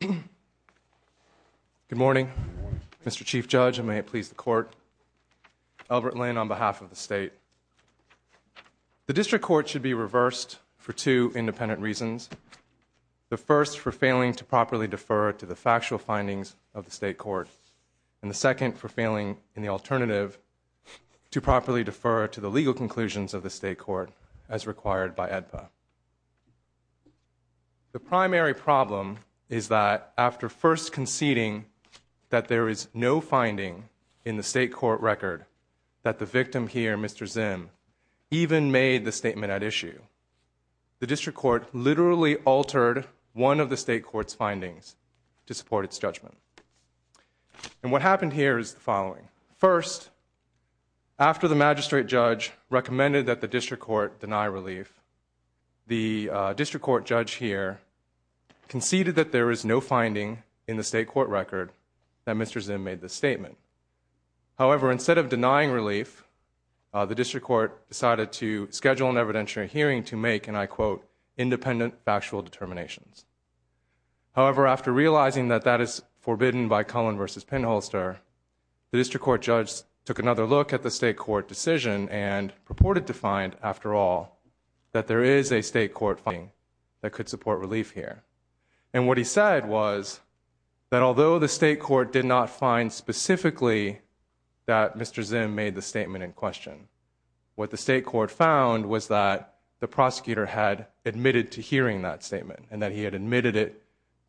Good morning, Mr. Chief Judge, and may it please the Court. Elbert Lin on behalf of the State. The District Court should be reversed for two independent reasons. The first, for failing to properly defer to the factual findings of the State Court, and the second, for failing, in the alternative, to properly defer to the legal conclusions of the State Court, as required by AEDPA. The primary problem is that, after first conceding that there is no finding in the State Court record that the victim here, Mr. Zim, even made the statement at issue, the District Court literally altered one of the State Court's findings to support its judgment. And what happened here is the following. First, after the Magistrate Judge recommended that the District Court deny relief, the District Court Judge here conceded that there is no finding in the State Court record that Mr. Zim made the statement. However, instead of denying relief, the District Court decided to schedule an evidentiary hearing to make, and I quote, independent factual determinations. However, after realizing that that is forbidden by Cullen v. Pinholster, the District Court Judge took another look at the State Court decision and purported to find, after all, that there is a State Court finding that could support relief here. And what he said was that, although the State Court did not find specifically that Mr. Zim made the statement in question, what the State Court found was that the prosecutor had admitted to hearing that statement and that he had admitted it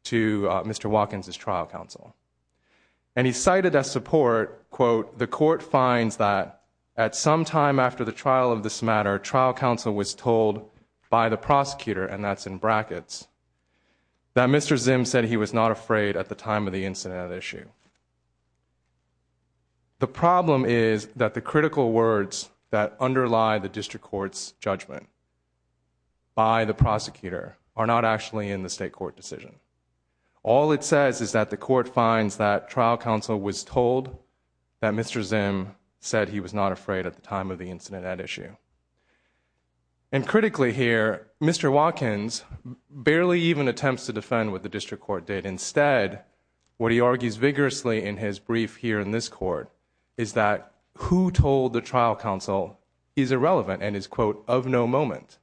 to Mr. Watkins' trial counsel. And he cited as support, quote, the court finds that at some time after the trial of this matter, trial counsel was told by the prosecutor, and that's in brackets, that Mr. Zim said he was not afraid at the time of the incident at issue. The problem is that the critical words that underlie the District Court's judgment by the prosecutor are not actually in the State Court decision. All it says is that the court finds that trial counsel was told that Mr. Zim said he was not afraid at the time of the incident at issue. And critically here, Mr. Watkins barely even attempts to defend what the District Court did. Instead, what he argues vigorously in his brief here in this court is that who told the trial counsel is irrelevant and is, quote, of no moment.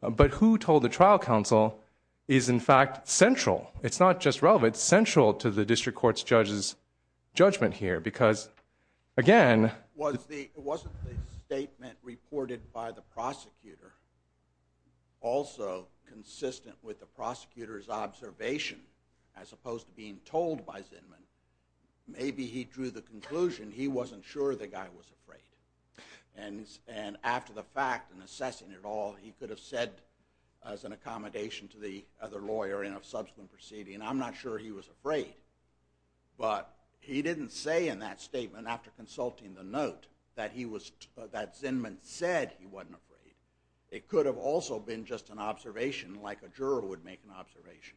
But who told the trial counsel is, in fact, central. It's not just relevant. It's central to the District Court's judge's judgment here. Because again- It wasn't the statement reported by the prosecutor also consistent with the prosecutor's observation as opposed to being told by Zimmon. Maybe he drew the conclusion he wasn't sure the guy was afraid. And after the fact and assessing it all, he could have said as an accommodation to the other lawyer in a subsequent proceeding, I'm not sure he was afraid. But he didn't say in that statement after consulting the note that Zimmon said he wasn't afraid. It could have also been just an observation like a juror would make an observation.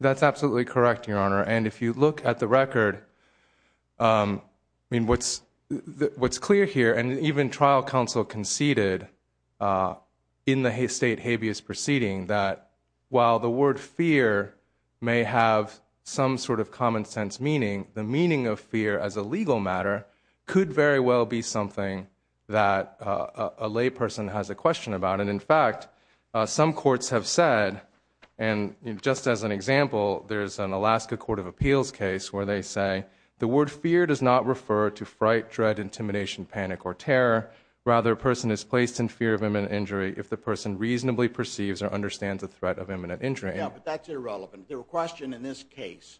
That's absolutely correct, Your Honor. And if you look at the record, what's clear here, and even trial counsel conceded in the state habeas proceeding that while the word fear may have some sort of common sense meaning, the meaning of fear as a legal matter could very well be something that a lay person has a question about. And in fact, some courts have said, and just as an example, there's an Alaska Court of Appeals case where they say, the word fear does not refer to fright, dread, intimidation, panic, or terror. Rather, a person is placed in fear of imminent injury if the person reasonably perceives or understands the threat of imminent injury. Yeah, but that's irrelevant. The question in this case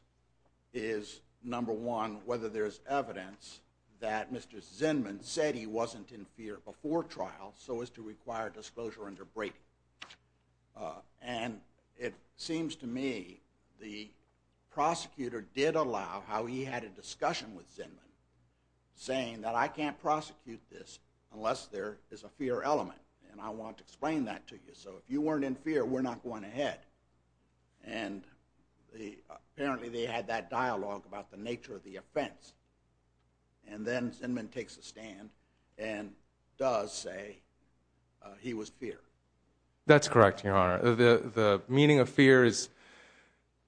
is, number one, whether there's evidence that Mr. Zimmon said he wasn't in fear before trial so as to require disclosure under Brady. And it seems to me the prosecutor did allow how he had a discussion with Zimmon saying that I can't prosecute this unless there is a fear element, and I want to explain that to you. So if you weren't in fear, we're not going ahead. And apparently they had that dialogue about the nature of the offense. And then Zimmon takes a stand and does say he was fear. That's correct, Your Honor. The meaning of fear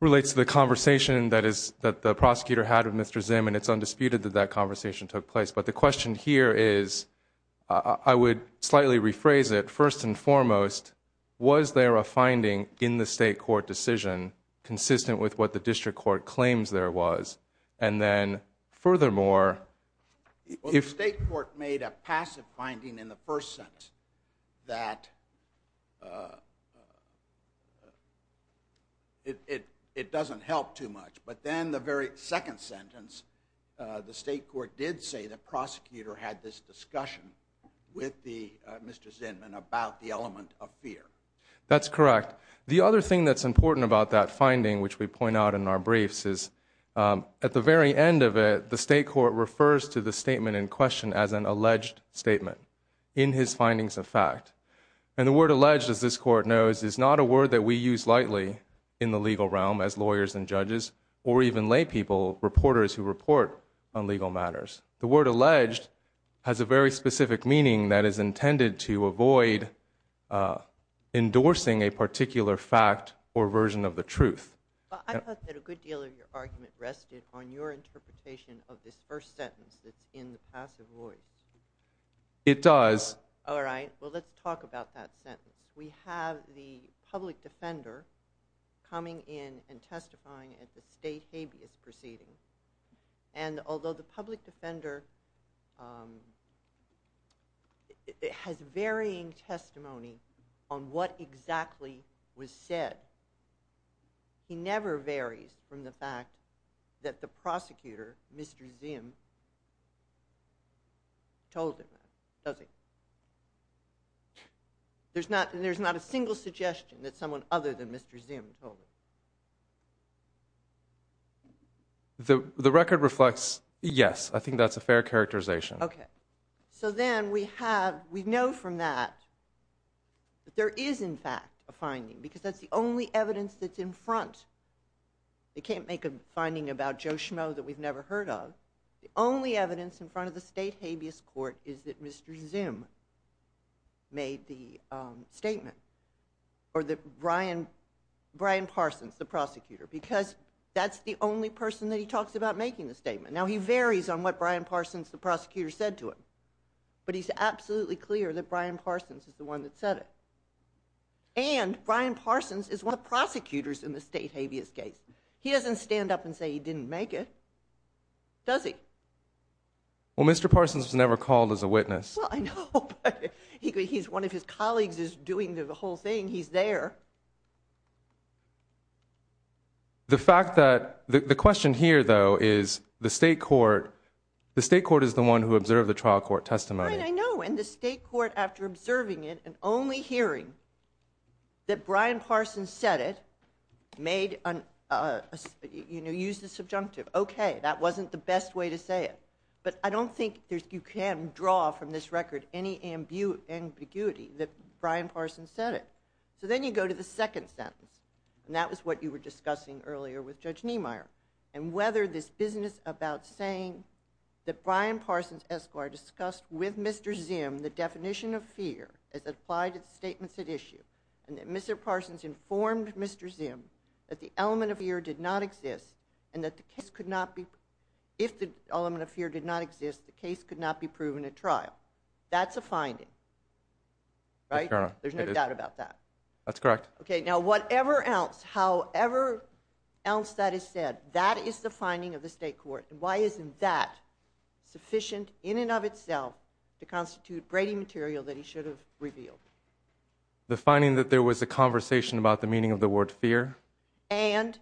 relates to the conversation that the prosecutor had with Mr. Zimmon. It's undisputed that that conversation took place. But the question here is, I would slightly rephrase it. First and foremost, was there a finding in the state court decision consistent with what the district court claims there was? And then furthermore, if- Well, the state court made a passive finding in the first sentence that it doesn't help too much. But then the very second sentence, the state court did say the prosecutor had this discussion with Mr. Zimmon about the element of fear. That's correct. The other thing that's important about that finding, which we point out in our briefs, is at the very end of it, the state court refers to the statement in question as an alleged statement in his findings of fact. And the word alleged, as this court knows, is not a word that we use lightly in the legal realm as lawyers and judges, or even lay people, reporters who report on legal matters. The word alleged has a very specific meaning that is intended to avoid endorsing a particular fact or version of the truth. Well, I thought that a good deal of your argument rested on your interpretation of this first sentence that's in the passive void. It does. All right. Well, let's talk about that sentence. We have the public defender coming in and testifying at the state habeas proceeding. And although the public defender has varying testimony on what exactly was said, he never varies from the fact that the prosecutor, Mr. Zim, told him that, does he? There's not a single suggestion that someone other than Mr. Zim told him. The record reflects, yes, I think that's a fair characterization. Okay. So then we have, we know from that that there is in fact a finding, because that's the only evidence that's in front, they can't make a finding about Joe Schmoe that we've never heard of. The only evidence in front of the state habeas court is that Mr. Zim made the statement, or that Brian Parsons, the prosecutor, because that's the only person that he talks about making the statement. Now, he varies on what Brian Parsons, the prosecutor, said to him, but he's absolutely clear that Brian Parsons is the one that said it. And Brian Parsons is one of the prosecutors in the state habeas case. He doesn't stand up and say he didn't make it, does he? Well, Mr. Parsons was never called as a witness. Well, I know, but he's one of his colleagues who's doing the whole thing, he's there. The fact that, the question here, though, is the state court, the state court is the one who observed the trial court testimony. Right, I know, and the state court, after observing it and only hearing that Brian Parsons said it, made, you know, used the subjunctive, okay, that wasn't the best way to say it. But I don't think you can draw from this record any ambiguity that Brian Parsons said it. So then you go to the second sentence, and that was what you were discussing earlier with Judge Niemeyer, and whether this business about saying that Brian Parsons' escort discussed with Mr. Zim the definition of fear as applied to the statements at issue, and that Mr. Parsons informed Mr. Zim that the element of fear did not exist, and that the case could not exist, the case could not be proven at trial. That's a finding. Right? Yes, Your Honor. There's no doubt about that. That's correct. Okay, now whatever else, however else that is said, that is the finding of the state court. Why isn't that sufficient in and of itself to constitute Brady material that he should have revealed? The finding that there was a conversation about the meaning of the word fear. And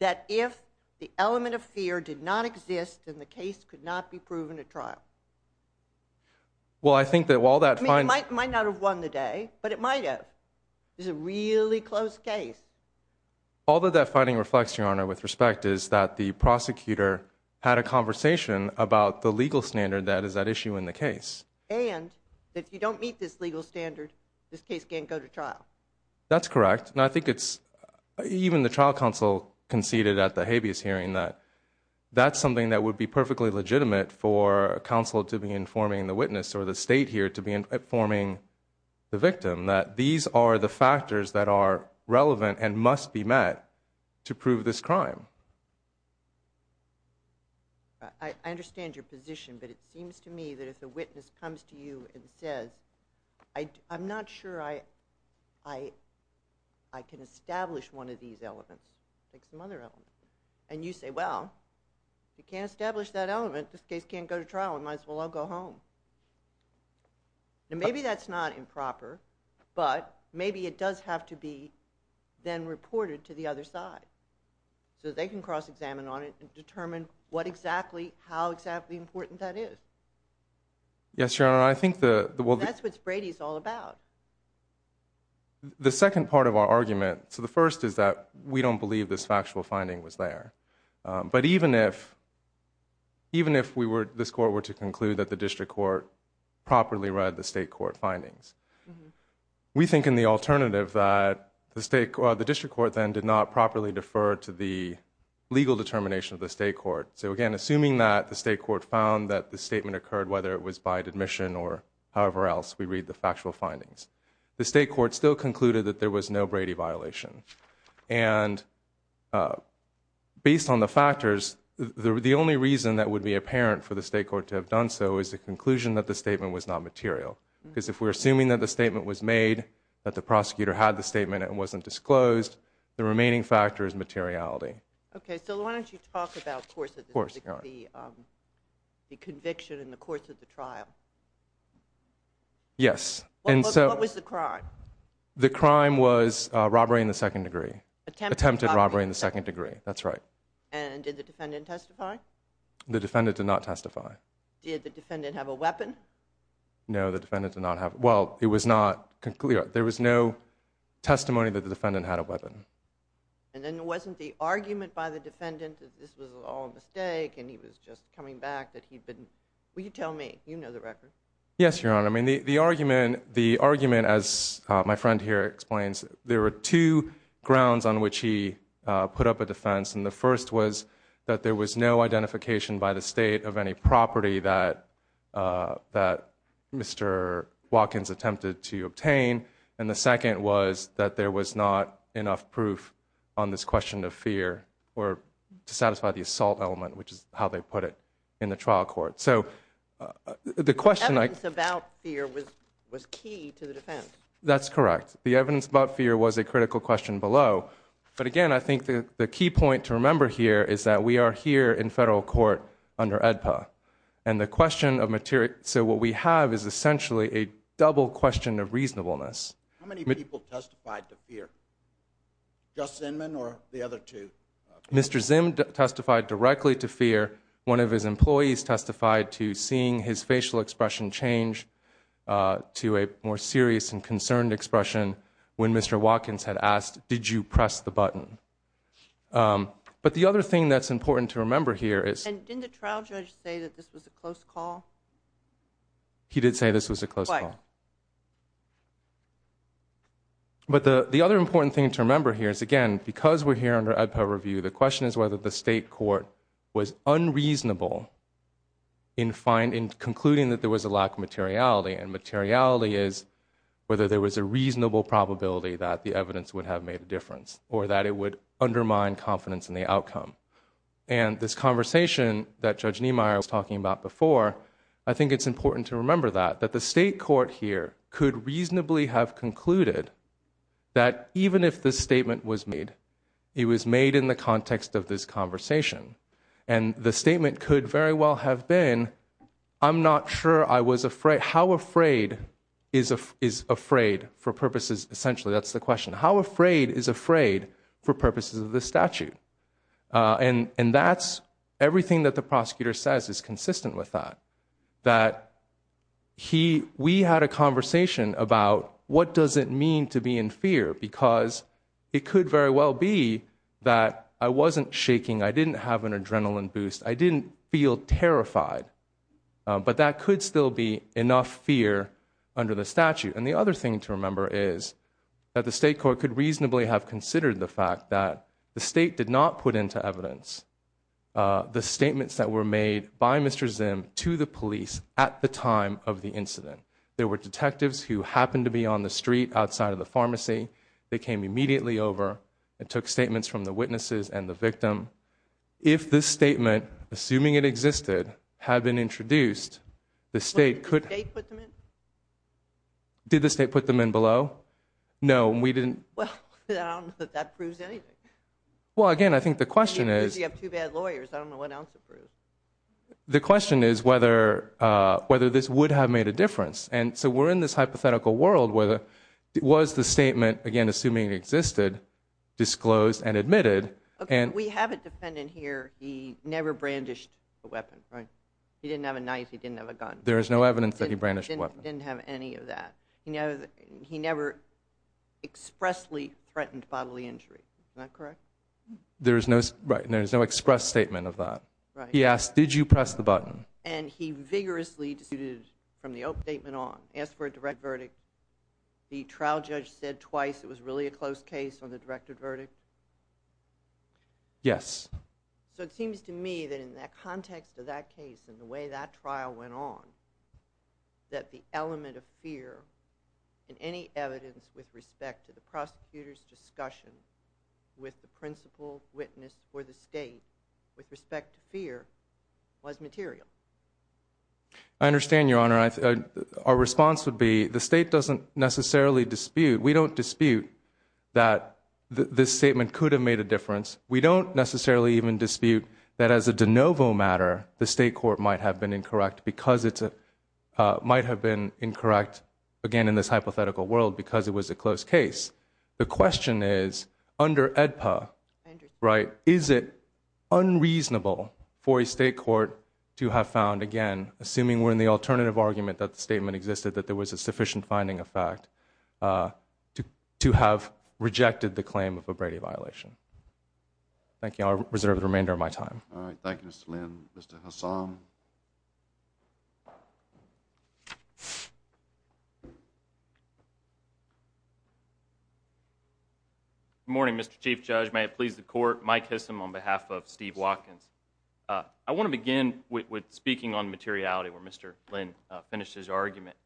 that if the element of fear did not exist, then the case could not be proven at trial. Well, I think that while that finds... It might not have won the day, but it might have. This is a really close case. All that that finding reflects, Your Honor, with respect, is that the prosecutor had a conversation about the legal standard that is at issue in the case. And that if you don't meet this legal standard, this case can't go to trial. That's correct. And I think it's... Even the trial counsel conceded at the habeas hearing that that's something that would be perfectly legitimate for counsel to be informing the witness or the state here to be informing the victim that these are the factors that are relevant and must be met to prove this crime. I understand your position, but it seems to me that if the witness comes to you and says, I'm not sure I can establish one of these elements. Take some other elements. And you say, well, you can't establish that element. This case can't go to trial. We might as well all go home. And maybe that's not improper, but maybe it does have to be then reported to the other side so that they can cross-examine on it and determine what exactly, how exactly important that is. Yes, Your Honor. That's what Brady's all about. The second part of our argument, so the first is that we don't believe this factual finding was there. But even if this court were to conclude that the district court properly read the state court findings, we think in the alternative that the district court then did not properly defer to the legal determination of the state court. So again, assuming that the state court found that the statement occurred, whether it was by admission or however else we read the factual findings, the state court still concluded that there was no Brady violation. And based on the factors, the only reason that would be apparent for the state court to have done so is the conclusion that the statement was not material. Because if we're assuming that the statement was made, that the prosecutor had the statement and it wasn't disclosed, the remaining factor is materiality. Okay, so why don't you talk about the conviction in the course of the trial. Yes. What was the crime? The crime was robbery in the second degree. Attempted robbery in the second degree, that's right. And did the defendant testify? The defendant did not testify. Did the defendant have a weapon? No, the defendant did not have, well, it was not, there was no testimony that the defendant had a weapon. And then wasn't the argument by the defendant that this was all a mistake and he was just coming back that he'd been, will you tell me, you know the record. Yes, Your Honor, I mean the argument, the argument as my friend here explains, there were two grounds on which he put up a defense. And the first was that there was no identification by the state of any property that Mr. Watkins attempted to obtain. And the second was that there was not enough proof on this question of fear or to satisfy the assault element, which is how they put it in the trial court. So the question I… The evidence about fear was key to the defense. That's correct. The evidence about fear was a critical question below. But again, I think the key point to remember here is that we are here in federal court under AEDPA. And the question of material… So what we have is essentially a double question of reasonableness. How many people testified to fear? Just Zinman or the other two? Mr. Zim testified directly to fear. One of his employees testified to seeing his facial expression change to a more serious and concerned expression when Mr. Watkins had asked, did you press the button? But the other thing that's important to remember here is… And didn't the trial judge say that this was a close call? He did say this was a close call. But the other important thing to remember here is, again, because we're here under AEDPA review, the question is whether the state court was unreasonable in concluding that there was a lack of materiality. And materiality is whether there was a reasonable probability that the evidence would have made a difference or that it would undermine confidence in the outcome. And this conversation that Judge Niemeyer was talking about before, I think it's important to remember that, that the state court here could reasonably have concluded that even if this statement was made, it was made in the context of this conversation. And the statement could very well have been, I'm not sure I was afraid… How afraid is afraid for purposes… Essentially, that's the question. How afraid is afraid for purposes of this statute? And that's everything that the prosecutor says is consistent with that. That we had a conversation about what does it mean to be in fear? Because it could very well be that I wasn't shaking, I didn't have an adrenaline boost, I didn't feel terrified. But that could still be enough fear under the statute. And the other thing to remember is that the state court could reasonably have considered the fact that the state did not put into evidence the statements that were made by Mr. Zim to the police at the time of the incident. There were detectives who happened to be on the street outside of the pharmacy. They came immediately over and took statements from the witnesses and the victim. If this statement, assuming it existed, had been introduced, the state could… Did the state put them in below? No, we didn't. Well, I don't know that that proves anything. Well, again, I think the question is… Because you have two bad lawyers, I don't know what else it proves. The question is whether this would have made a difference. And so we're in this hypothetical world where it was the statement, again, assuming it existed, disclosed and admitted. Okay, we have a defendant here, he never brandished a weapon, right? He didn't have a knife, he didn't have a gun. There is no evidence that he brandished a weapon. He didn't have any of that. He never expressly threatened bodily injury. Is that correct? There is no express statement of that. He asked, did you press the button? And he vigorously disputed from the open statement on. He asked for a direct verdict. The trial judge said twice it was really a close case on the directed verdict. Yes. So it seems to me that in the context of that case and the way that trial went on, that the element of fear in any evidence with respect to the prosecutor's discussion with the principal witness for the state with respect to fear was material. I understand, Your Honor. Our response would be the state doesn't necessarily dispute. We don't dispute that this statement could have made a difference. We don't necessarily even dispute that as a de novo matter, the state court might have been incorrect because it might have been incorrect, again, in this hypothetical world because it was a close case. The question is, under AEDPA, right, is it unreasonable for a state court to have found, again, assuming we're in the alternative argument that the statement existed, that there was a sufficient finding of fact to have rejected the claim of a Brady violation? Thank you. I'll reserve the remainder of my time. All right. Thank you, Mr. Lynn. Mr. Hassam? Good morning, Mr. Chief Judge. May it please the Court. Mike Hissom on behalf of Steve Watkins. I want to begin with speaking on materiality where Mr. Lynn finished his argument.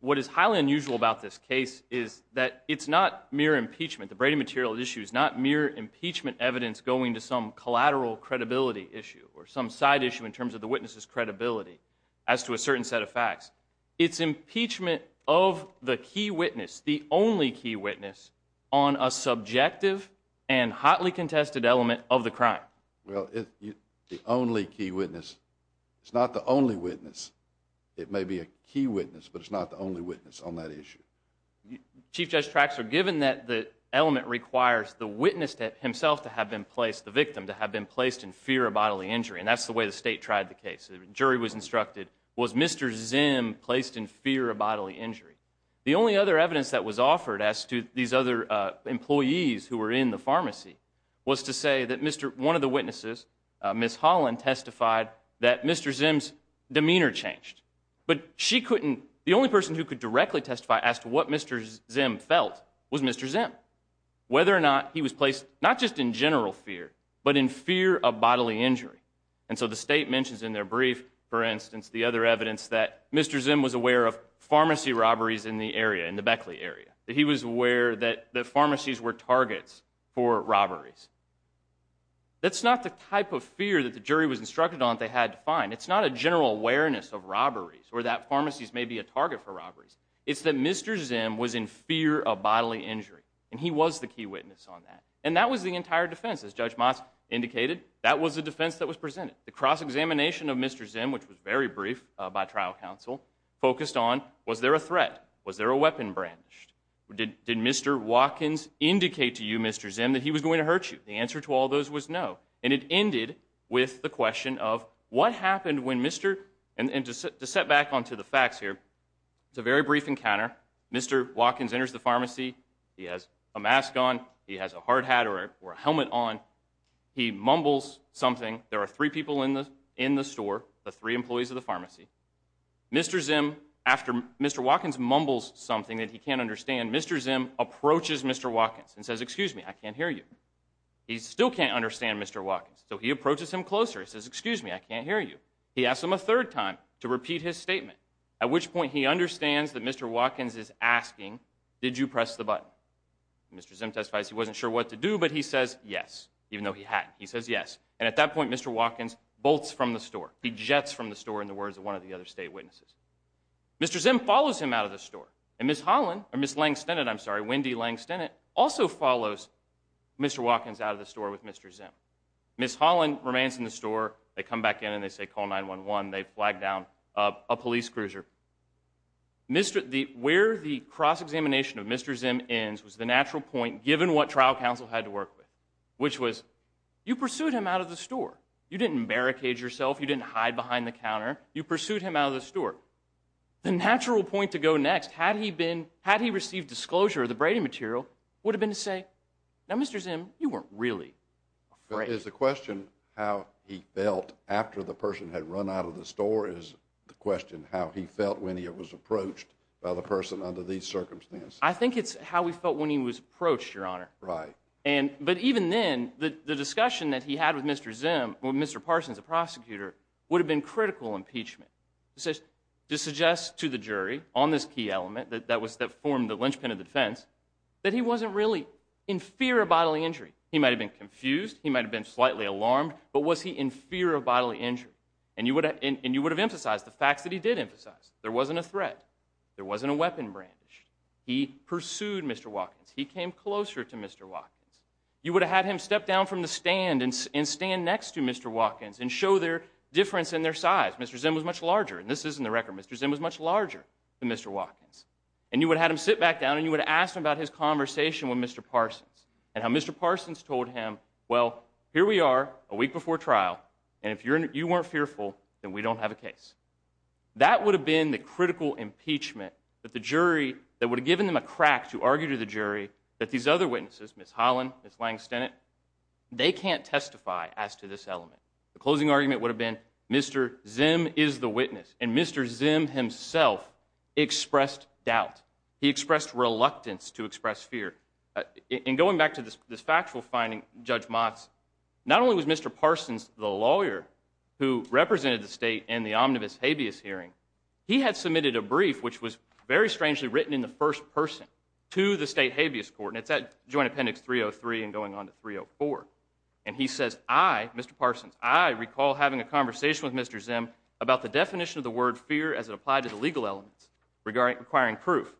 What is highly unusual about this case is that it's not mere impeachment. The Brady material issue is not mere impeachment evidence going to some collateral credibility issue or some side issue in terms of the witness' credibility as to a certain set of facts. It's impeachment of the key witness, the only key witness, on a subjective and hotly contested element of the crime. Well, the only key witness. It's not the only witness. It may be a key witness, but it's not the only witness on that issue. Chief Judge Traxler, given that the element requires the witness himself to have been placed, the victim, to have been placed in fear of bodily injury, and that's the way the State tried the case. The jury was instructed, was Mr. Zim placed in fear of bodily injury? The only other evidence that was offered as to these other employees who were in the pharmacy was to say that one of the witnesses, Ms. Holland, testified that Mr. Zim's demeanor changed. But she couldn't, the only person who could directly testify as to what Mr. Zim felt was Mr. Zim. Whether or not he was placed, not just in general fear, but in fear of bodily injury. And so the State mentions in their brief, for instance, the other evidence that Mr. Zim was aware of pharmacy robberies in the area, in the Beckley area. That he was aware that pharmacies were targets for robberies. That's not the type of fear that the jury was instructed on that they had to find. It's not a general awareness of robberies, or that pharmacies may be a target for robberies. It's that Mr. Zim was in fear of bodily injury, and he was the key witness on that. And that was the entire defense, as Judge Moss indicated. That was the defense that was presented. The cross-examination of Mr. Zim, which was very brief by trial counsel, focused on, was there a threat? Was there a weapon brandished? Did Mr. Watkins indicate to you, Mr. Zim, that he was going to hurt you? The answer to all those was no. And it ended with the question of what happened when Mr. And to set back onto the facts here, it's a very brief encounter. Mr. Watkins enters the pharmacy. He has a mask on. He has a hard hat or a helmet on. He mumbles something. There are three people in the store, the three employees of the pharmacy. Mr. Zim, after Mr. Watkins mumbles something that he can't understand, Mr. Zim approaches Mr. Watkins and says, excuse me, I can't hear you. He still can't understand Mr. Watkins, so he approaches him closer. He says, excuse me, I can't hear you. He asks him a third time to repeat his statement, at which point he understands that Mr. Watkins is asking, did you press the button? Mr. Zim testifies he wasn't sure what to do, but he says yes, even though he hadn't. He says yes. And at that point, Mr. Watkins bolts from the store. He jets from the store in the words of one of the other state witnesses. Mr. Zim follows him out of the store. And Ms. Holland, or Ms. Lang-Stennett, I'm sorry, Wendy Lang-Stennett, also follows Mr. Watkins out of the store with Mr. Zim. Ms. Holland remains in the store. They come back in and they say call 911. They flag down a police cruiser. Where the cross-examination of Mr. Zim ends was the natural point, given what trial counsel had to work with, which was, you pursued him out of the store. You didn't barricade yourself. You didn't hide behind the counter. You pursued him out of the store. The natural point to go next, had he received disclosure of the braiding material, would have been to say, now, Mr. Zim, you weren't really afraid. Is the question how he felt after the person had run out of the store, is the question how he felt when he was approached by the person under these circumstances? I think it's how he felt when he was approached, Your Honor. Right. But even then, the discussion that he had with Mr. Zim, with Mr. Parsons, the prosecutor, would have been critical impeachment. To suggest to the jury on this key element that formed the linchpin of the defense, that he wasn't really in fear of bodily injury. He might have been confused. He might have been slightly alarmed. But was he in fear of bodily injury? And you would have emphasized the facts that he did emphasize. There wasn't a threat. There wasn't a weapon brandish. He pursued Mr. Watkins. He came closer to Mr. Watkins. You would have had him step down from the stand and stand next to Mr. Watkins and show their difference in their size. Mr. Zim was much larger. And this is in the record. Mr. Zim was much larger than Mr. Watkins. And you would have had him sit back down, and you would have asked him about his conversation with Mr. Parsons and how Mr. Parsons told him, well, here we are a week before trial, and if you weren't fearful, then we don't have a case. That would have been the critical impeachment that the jury, that would have given them a crack to argue to the jury that these other witnesses, Ms. Holland, Ms. Lang-Stennett, they can't testify as to this element. The closing argument would have been Mr. Zim is the witness, and Mr. Zim himself expressed doubt. He expressed reluctance to express fear. And going back to this factual finding, Judge Motz, not only was Mr. Parsons the lawyer who represented the state in the omnibus habeas hearing, he had submitted a brief, which was very strangely written in the first person, to the state habeas court, and it's at Joint Appendix 303 and going on to 304. And he says, I, Mr. Parsons, I recall having a conversation with Mr. Zim about the definition of the word fear as it applied to the legal elements requiring proof.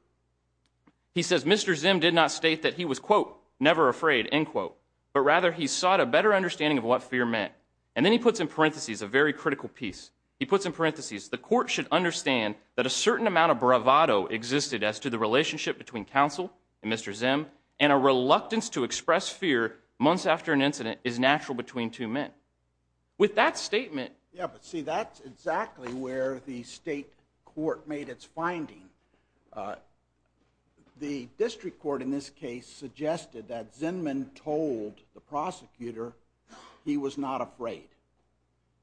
He says Mr. Zim did not state that he was, quote, never afraid, end quote, but rather he sought a better understanding of what fear meant. And then he puts in parentheses a very critical piece. He puts in parentheses, the court should understand that a certain amount of bravado existed as to the relationship between counsel and Mr. Zim and a reluctance to express fear months after an incident is natural between two men. With that statement. Yeah, but see, that's exactly where the state court made its finding. The district court in this case suggested that Zim told the prosecutor he was not afraid.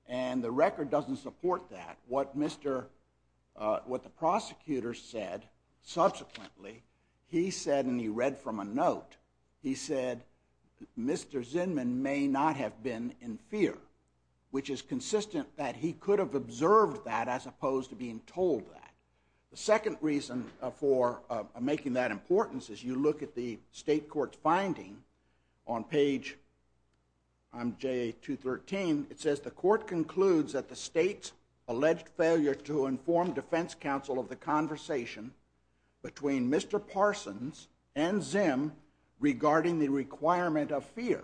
And the record doesn't support that. What the prosecutor said subsequently, he said, and he read from a note, he said Mr. Zim may not have been in fear, which is consistent that he could have observed that as opposed to being told that. The second reason for making that importance is you look at the state court's finding on page, I'm J.A. 213, it says the court concludes that the state's alleged failure to inform defense counsel of the conversation between Mr. Parsons and Zim regarding the requirement of fear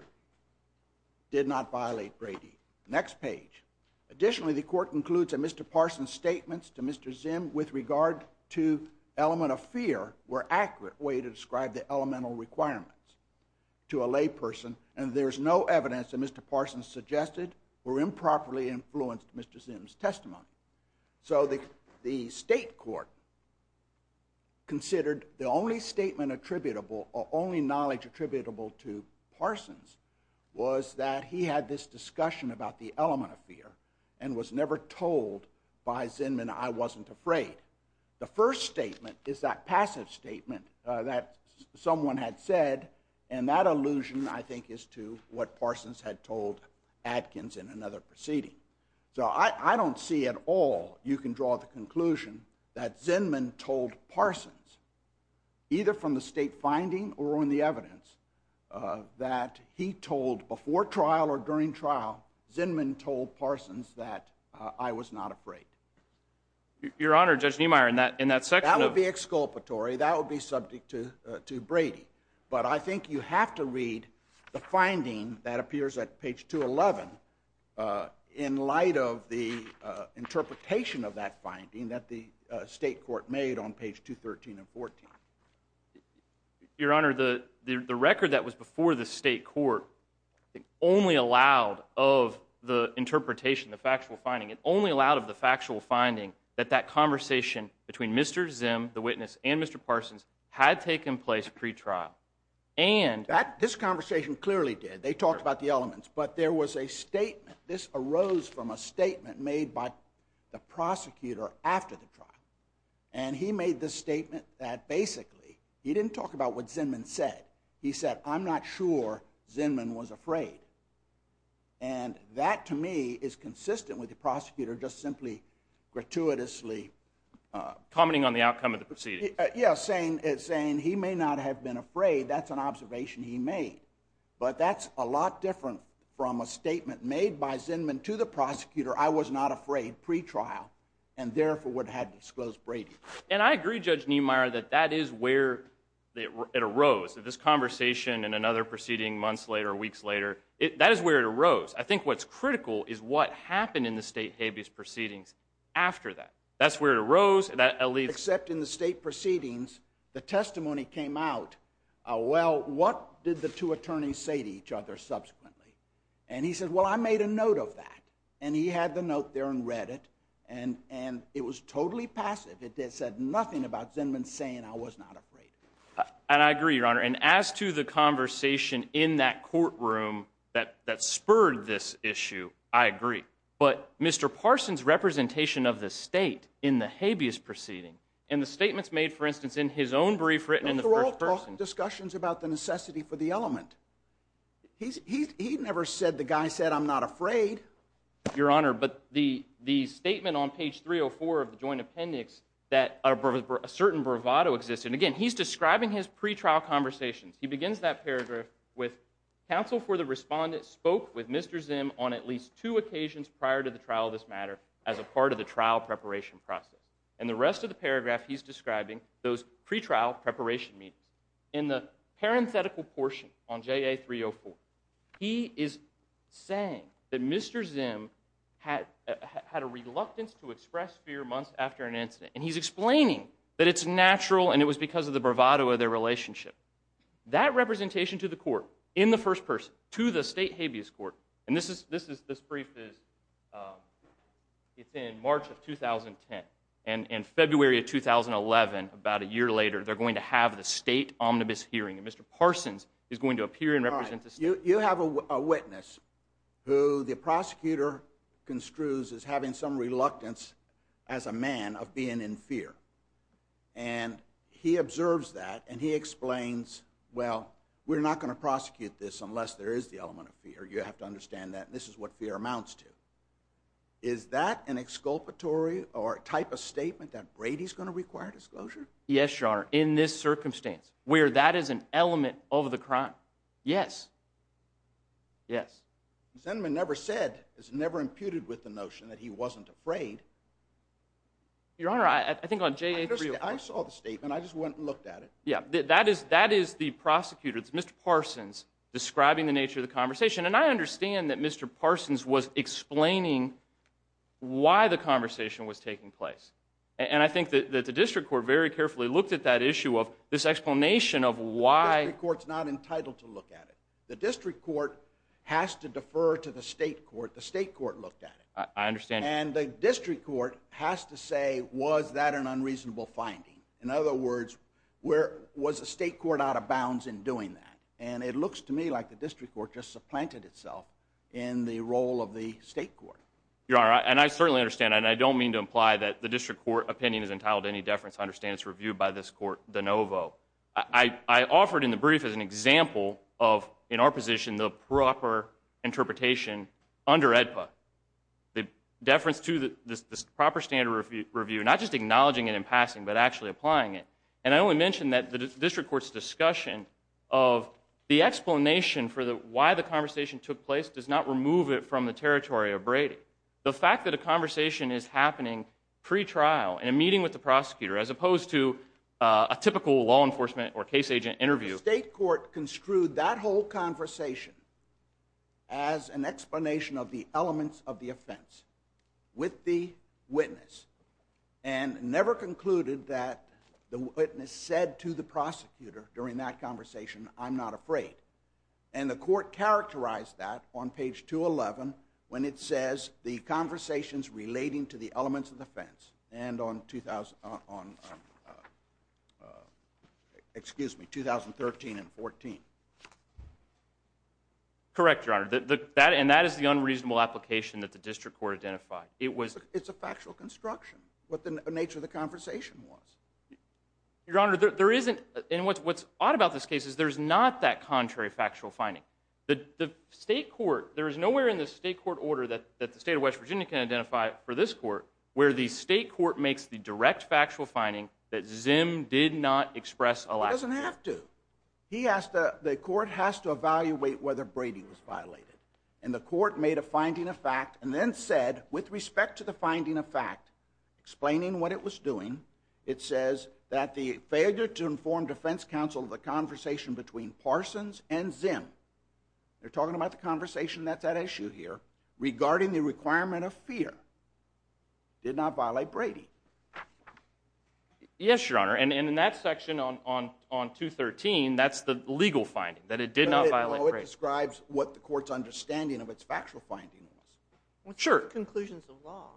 did not violate Brady. Next page. Additionally, the court concludes that Mr. Parsons' statements to Mr. Zim with regard to element of fear were accurate way to describe the elemental requirements to a lay person and there's no evidence that Mr. Parsons suggested or improperly influenced Mr. Zim's testimony. So the state court considered the only statement attributable or only knowledge attributable to Parsons was that he had this discussion about the element of fear and was never told by Zim and I wasn't afraid. The first statement is that passive statement that someone had said and that allusion I think is to what Parsons had told Adkins in another proceeding. So I don't see at all you can draw the conclusion that Zinman told Parsons either from the state finding or on the evidence that he told before trial or during trial, Zinman told Parsons that I was not afraid. Your Honor, Judge Niemeyer, in that section of... That would be exculpatory, that would be subject to Brady. But I think you have to read the finding that appears at page 211 in light of the interpretation of that finding that the state court made on page 213 and 214. Your Honor, the record that was before the state court only allowed of the interpretation, the factual finding, it only allowed of the factual finding that that conversation between Mr. Zim, the witness, and Mr. Parsons had taken place pre-trial and... This conversation clearly did. They talked about the elements. But there was a statement, this arose from a statement made by the prosecutor after the trial. And he made this statement that basically, he didn't talk about what Zinman said. He said, I'm not sure Zinman was afraid. And that to me is consistent with the prosecutor just simply gratuitously... Commenting on the outcome of the proceeding. Yeah, saying he may not have been afraid, that's an observation he made. But that's a lot different from a statement made by Zinman to the prosecutor, I was not afraid, pre-trial, and therefore would have disclosed Brady. And I agree, Judge Niemeyer, that that is where it arose. This conversation and another proceeding months later or weeks later, that is where it arose. I think what's critical is what happened in the state habeas proceedings after that. That's where it arose. Except in the state proceedings, the testimony came out, well, what did the two attorneys say to each other subsequently? And he said, well, I made a note of that. And he had the note there and read it, and it was totally passive. It said nothing about Zinman saying I was not afraid. And I agree, Your Honor. And as to the conversation in that courtroom that spurred this issue, I agree. But Mr. Parson's representation of the state in the habeas proceeding, in the statements made, for instance, in his own brief written in the first person... He never said the guy said, I'm not afraid. Your Honor, but the statement on page 304 of the joint appendix that a certain bravado existed. Again, he's describing his pretrial conversations. He begins that paragraph with, counsel for the respondent spoke with Mr. Zim on at least two occasions prior to the trial of this matter as a part of the trial preparation process. And the rest of the paragraph, he's describing those pretrial preparation meetings. In the parenthetical portion on JA304, he is saying that Mr. Zim had a reluctance to express fear months after an incident. And he's explaining that it's natural and it was because of the bravado of their relationship. That representation to the court in the first person, to the state habeas court, and this brief is in March of 2010. And in February of 2011, about a year later, they're going to have the state omnibus hearing. And Mr. Parsons is going to appear and represent the state. You have a witness who the prosecutor construes as having some reluctance as a man of being in fear. And he observes that and he explains, well, we're not going to prosecute this unless there is the element of fear. You have to understand that this is what fear amounts to. Is that an exculpatory or type of statement that Brady's going to require disclosure? Yes, Your Honor, in this circumstance, where that is an element of the crime. Yes. Yes. The sentiment never said, is never imputed with the notion that he wasn't afraid. Your Honor, I think on JA3... I saw the statement, I just went and looked at it. Yeah, that is the prosecutor, it's Mr. Parsons, describing the nature of the conversation. And I understand that Mr. Parsons was explaining why the conversation was taking place. And I think that the district court very carefully looked at that issue of this explanation of why... The district court's not entitled to look at it. The district court has to defer to the state court. The state court looked at it. I understand. And the district court has to say, was that an unreasonable finding? In other words, was the state court out of bounds in doing that? And it looks to me like the district court just supplanted itself in the role of the state court. Your Honor, and I certainly understand, and I don't mean to imply that the district court opinion is entitled to any deference. I understand it's reviewed by this court de novo. I offered in the brief as an example of, in our position, the proper interpretation under AEDPA. The deference to the proper standard review, not just acknowledging it in passing, but actually applying it. And I only mentioned that the district court's discussion of the explanation for why the conversation took place does not remove it from the territory of Brady. The fact that a conversation is happening pre-trial in a meeting with the prosecutor, as opposed to a typical law enforcement or case agent interview. The state court construed that whole conversation as an explanation of the elements of the offense with the witness and never concluded that the witness said to the prosecutor during that conversation, I'm not afraid. And the court characterized that on page 211 when it says the conversations relating to the elements of the offense and on 2013 and 14. Correct, Your Honor, and that is the unreasonable application that the district court identified. It's a factual construction, what the nature of the conversation was. Your Honor, there isn't, and what's odd about this case is there's not that contrary factual finding. The state court, there is nowhere in the state court order that the state of West Virginia can identify for this court where the state court makes the direct factual finding that Zim did not express a lack there. He doesn't have to. The court has to evaluate whether Brady was violated. And the court made a finding of fact and then said, with respect to the finding of fact, explaining what it was doing, it says that the failure to inform defense counsel of the conversation between Parsons and Zim, they're talking about the conversation that's at issue here, regarding the requirement of fear, did not violate Brady. Yes, Your Honor, and in that section on 213, that's the legal finding, that it did not violate Brady. No, it describes what the court's understanding of its factual finding was. Sure. Conclusions of law.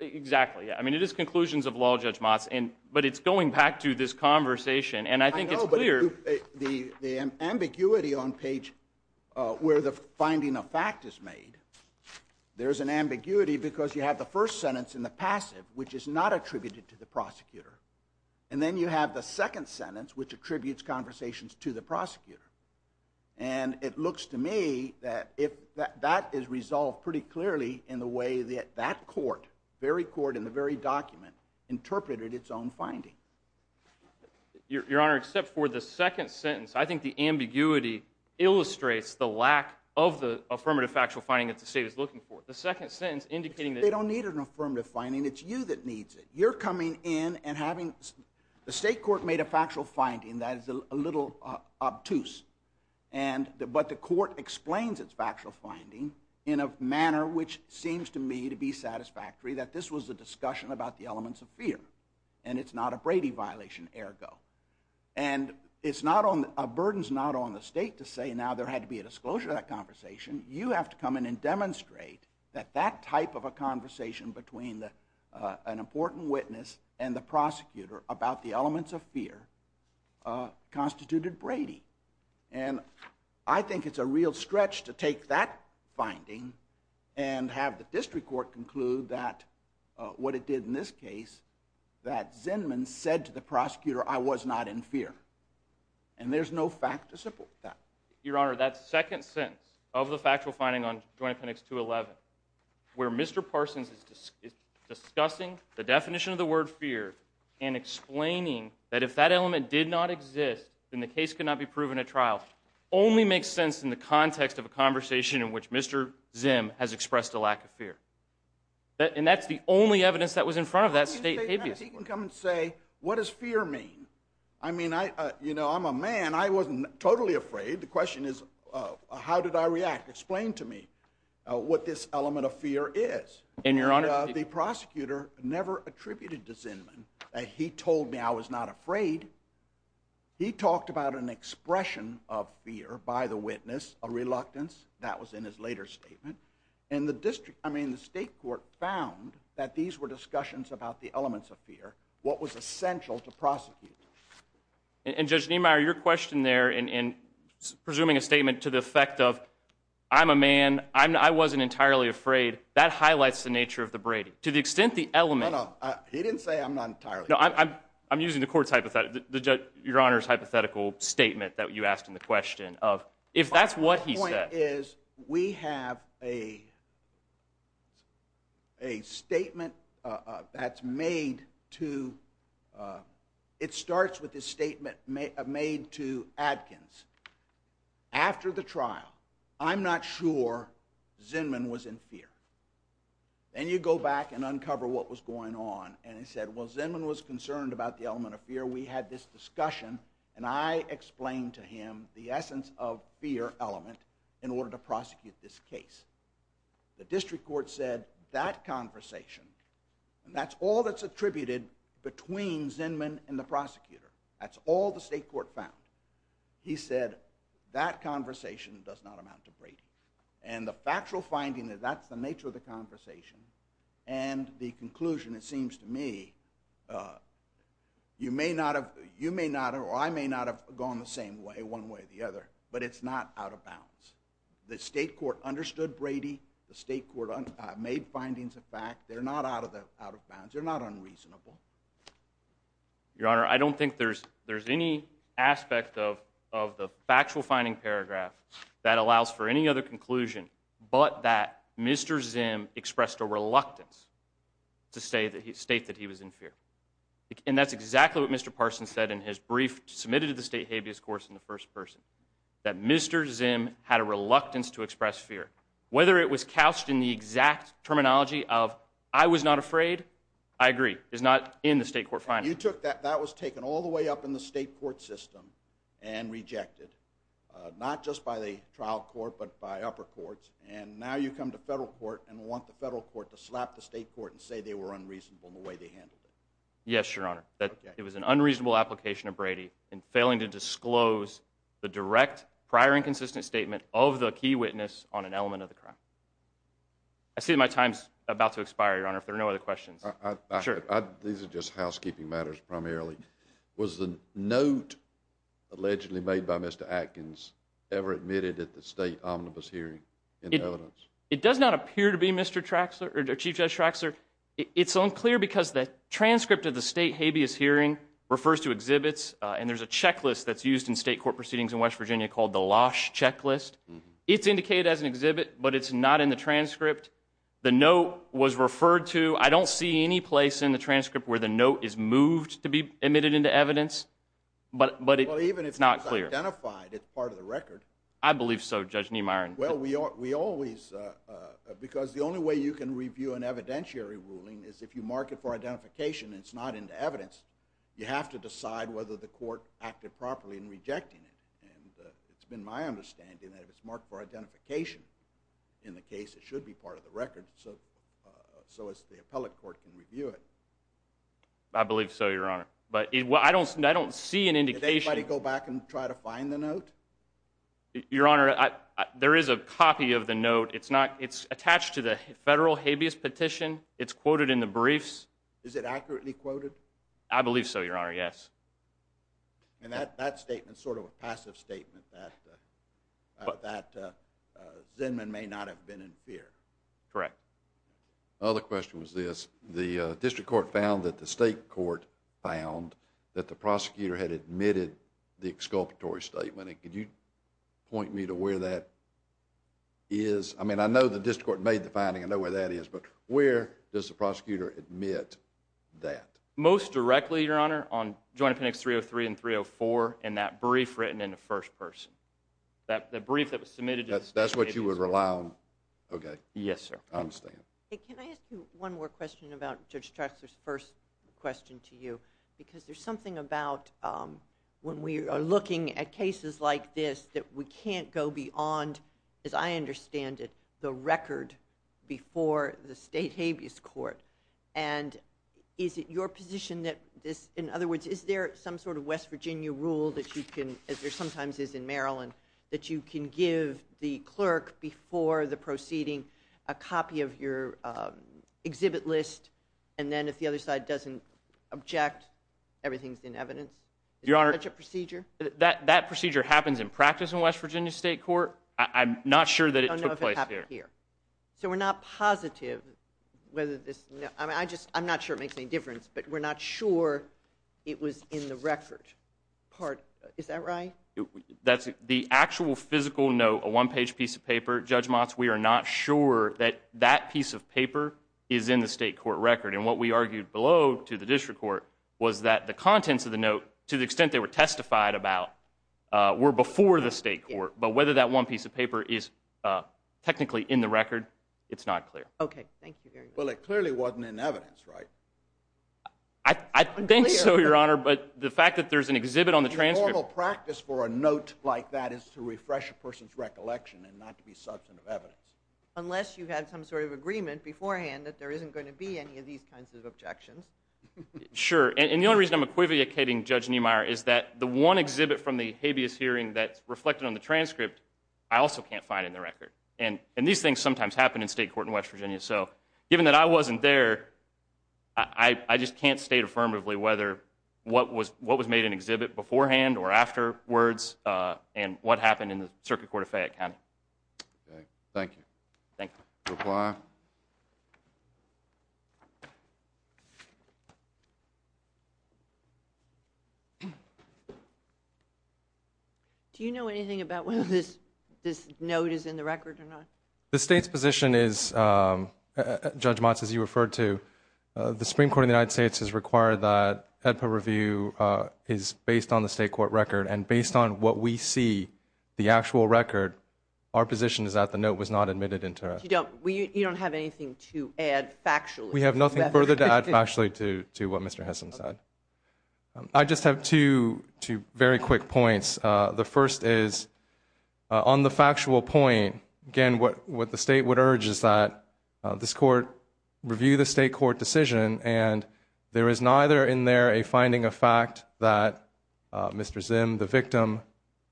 Exactly, yeah. I mean, it is conclusions of law, Judge Motz, but it's going back to this conversation, and I think it's clear... I know, but the ambiguity on page where the finding of fact is made, there's an ambiguity because you have the first sentence in the passive, which is not attributed to the prosecutor, and then you have the second sentence, which attributes conversations to the prosecutor. And it looks to me that that is resolved pretty clearly in the way that that court, the very court in the very document, interpreted its own finding. Your Honor, except for the second sentence, I think the ambiguity illustrates the lack of the affirmative factual finding that the state is looking for. The second sentence indicating that... They don't need an affirmative finding. It's you that needs it. You're coming in and having... The state court made a factual finding that is a little obtuse, but the court explains its factual finding in a manner which seems to me to be satisfactory, that this was a discussion about the elements of fear, and it's not a Brady violation, ergo. And it's not on... A burden's not on the state to say, now there had to be a disclosure of that conversation. You have to come in and demonstrate that that type of a conversation between an important witness and the prosecutor about the elements of fear constituted Brady. And I think it's a real stretch to take that finding and have the district court conclude that, what it did in this case, that Zinman said to the prosecutor, I was not in fear. And there's no fact to support that. Your Honor, that second sentence of the factual finding on Joint Appendix 211, where Mr. Parsons is discussing the definition of the word fear and explaining that if that element did not exist, then the case could not be proven at trial, only makes sense in the context of a conversation in which Mr. Zim has expressed a lack of fear. And that's the only evidence that was in front of that state... He can come and say, what does fear mean? I mean, you know, I'm a man. I wasn't totally afraid. The question is, how did I react? Explain to me what this element of fear is. And, Your Honor... The prosecutor never attributed to Zinman that he told me I was not afraid. He talked about an expression of fear by the witness, a reluctance. That was in his later statement. And the district... I mean, the state court found that these were discussions about the elements of fear, what was essential to prosecuting. And, Judge Niemeyer, your question there in presuming a statement to the effect of, I'm a man, I wasn't entirely afraid, that highlights the nature of the Brady. To the extent the element... No, no, he didn't say I'm not entirely afraid. No, I'm using the court's hypothetical... Your Honor's hypothetical statement that you asked in the question of, if that's what he said... My point is, we have a statement that's made to... It starts with a statement made to Adkins. After the trial, I'm not sure Zinman was in fear. Then you go back and uncover what was going on, and it said, well, Zinman was concerned about the element of fear. We had this discussion, and I explained to him the essence of fear element in order to prosecute this case. The district court said, that conversation, and that's all that's attributed between Zinman and the prosecutor. That's all the state court found. He said, that conversation does not amount to Brady. And the factual finding that that's the nature of the conversation, and the conclusion, it seems to me, you may not have, you may not have, or I may not have gone the same way, one way or the other, but it's not out of bounds. The state court understood Brady. The state court made findings of fact. They're not out of bounds. They're not unreasonable. Your Honor, I don't think there's any aspect of the factual finding paragraph that allows for any other conclusion, but that Mr. Zim expressed a reluctance to state that he was in fear. And that's exactly what Mr. Parson said in his brief submitted to the state habeas course in the first person, that Mr. Zim had a reluctance to express fear. Whether it was couched in the exact terminology of, I was not afraid, I agree, is not in the state court finding. That was taken all the way up in the state court system and rejected, not just by the trial court, but by upper courts. And now you come to federal court and want the federal court to slap the state court and say they were unreasonable in the way they handled it. Yes, Your Honor. That it was an unreasonable application of Brady in failing to disclose the direct prior inconsistent statement of the key witness on an element of the crime. I see my time's about to expire, Your Honor, if there are no other questions. These are just housekeeping matters primarily. Was the note allegedly made by Mr. Atkins ever admitted at the state omnibus hearing in evidence? It does not appear to be, Mr. Traxler, or Chief Judge Traxler. It's unclear because the transcript of the state habeas hearing refers to exhibits, and there's a checklist that's used in state court proceedings in West Virginia called the Losch checklist. It's indicated as an exhibit, but it's not in the transcript. The note was referred to. I don't see any place in the transcript where the note is moved to be admitted into evidence, but it's not clear. If it's identified, it's part of the record. I believe so, Judge Niemeyer. Well, we always... Because the only way you can review an evidentiary ruling is if you mark it for identification and it's not into evidence. You have to decide whether the court acted properly in rejecting it, and it's been my understanding that if it's marked for identification in the case, it should be part of the record so as the appellate court can review it. I believe so, Your Honor. But I don't see an indication... Did anybody go back and try to find the note? Your Honor, there is a copy of the note. It's attached to the federal habeas petition. It's quoted in the briefs. Is it accurately quoted? I believe so, Your Honor, yes. And that statement's sort of a passive statement that Zinman may not have been in fear. Correct. Another question was this. The district court found that the state court found that the prosecutor had admitted the exculpatory statement, and could you point me to where that is? I mean, I know the district court made the finding. I know where that is, but where does the prosecutor admit that? Most directly, Your Honor, on Joint Appendix 303 and 304 in that brief written in the first person. That brief that was submitted... That's what you would rely on? Yes, sir. I understand. Can I ask you one more question about Judge Traxler's first question to you? Because there's something about when we are looking at cases like this that we can't go beyond, as I understand it, the record before the state habeas court. And is it your position that this... In other words, is there some sort of West Virginia rule that you can, as there sometimes is in Maryland, that you can give the clerk before the proceeding a copy of your exhibit list, and then if the other side doesn't object, everything's in evidence? Is there such a procedure? That procedure happens in practice in West Virginia state court. I'm not sure that it took place here. So we're not positive whether this... I'm not sure it makes any difference, but we're not sure it was in the record part. Is that right? The actual physical note, a one-page piece of paper, Judge Motz, we are not sure that that piece of paper is in the state court record. And what we argued below to the district court was that the contents of the note, to the extent they were testified about, were before the state court. But whether that one piece of paper is technically in the record, it's not clear. Okay, thank you very much. Well, it clearly wasn't in evidence, right? I think so, Your Honor, but the fact that there's an exhibit on the transcript... The normal practice for a note like that is to refresh a person's recollection and not to be substantive evidence. Unless you had some sort of agreement beforehand that there isn't going to be any of these kinds of objections. Sure. And the only reason I'm equivocating Judge Niemeyer is that the one exhibit from the habeas hearing that's reflected on the transcript, I also can't find in the record. And these things sometimes happen in state court in West Virginia. So given that I wasn't there, I just can't state affirmatively what was made in exhibit beforehand or afterwards and what happened in the Circuit Court of Fayette County. Okay, thank you. Thank you. Require? Do you know anything about whether this note is in the record or not? The state's position is, Judge Motz, as you referred to, the Supreme Court of the United States has required that HEDPA review is based on the state court record, and based on what we see, the actual record, our position is that the note was not admitted into it. You don't have anything to add factually? We have nothing further to add factually to what Mr. Hessam said. I just have two very quick points. The first is on the factual point, again, what the state would urge is that this court review the state court decision and there is neither in there a finding of fact that Mr. Zim, the victim,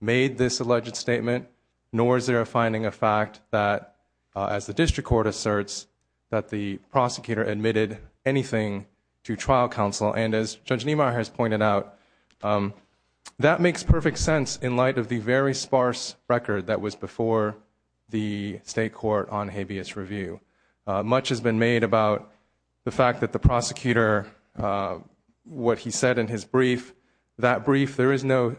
made this alleged statement, nor is there a finding of fact that, as the district court asserts, that the prosecutor admitted anything to trial counsel, and as Judge Niemeyer has pointed out, that makes perfect sense in light of the very sparse record that was before the state court on habeas review. Much has been made about the fact that the prosecutor, what he said in his brief, that brief, there is no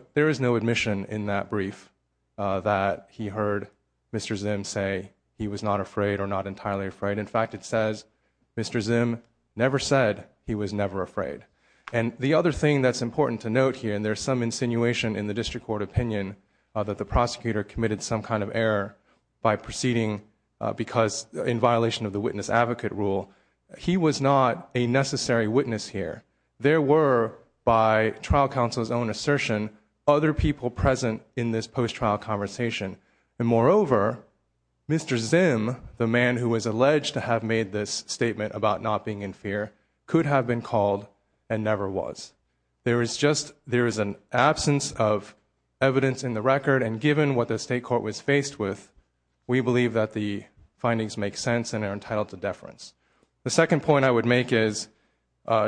admission in that brief that he heard Mr. Zim say he was not afraid or not entirely afraid. In fact, it says Mr. Zim never said he was never afraid. And the other thing that's important to note here, and there's some insinuation in the district court opinion that the prosecutor committed some kind of error by proceeding because in violation of the witness advocate rule, he was not a necessary witness here. There were, by trial counsel's own assertion, other people present in this post-trial conversation. And moreover, Mr. Zim, the man who was alleged to have made this statement about not being in fear, could have been called and never was. There is an absence of evidence in the record, and given what the state court was faced with, we believe that the findings make sense and are entitled to deference. The second point I would make is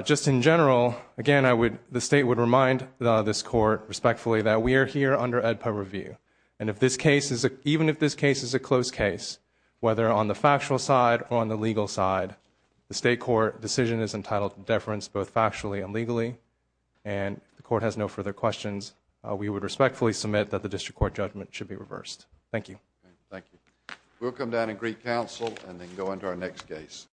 just in general, again, the state would remind this court respectfully that we are here under AEDPA review, and even if this case is a close case, whether on the factual side or on the legal side, the state court decision is entitled to deference both factually and legally. And if the court has no further questions, we would respectfully submit that the district court judgment should be reversed. Thank you. Thank you. We'll come down and greet counsel and then go on to our next case.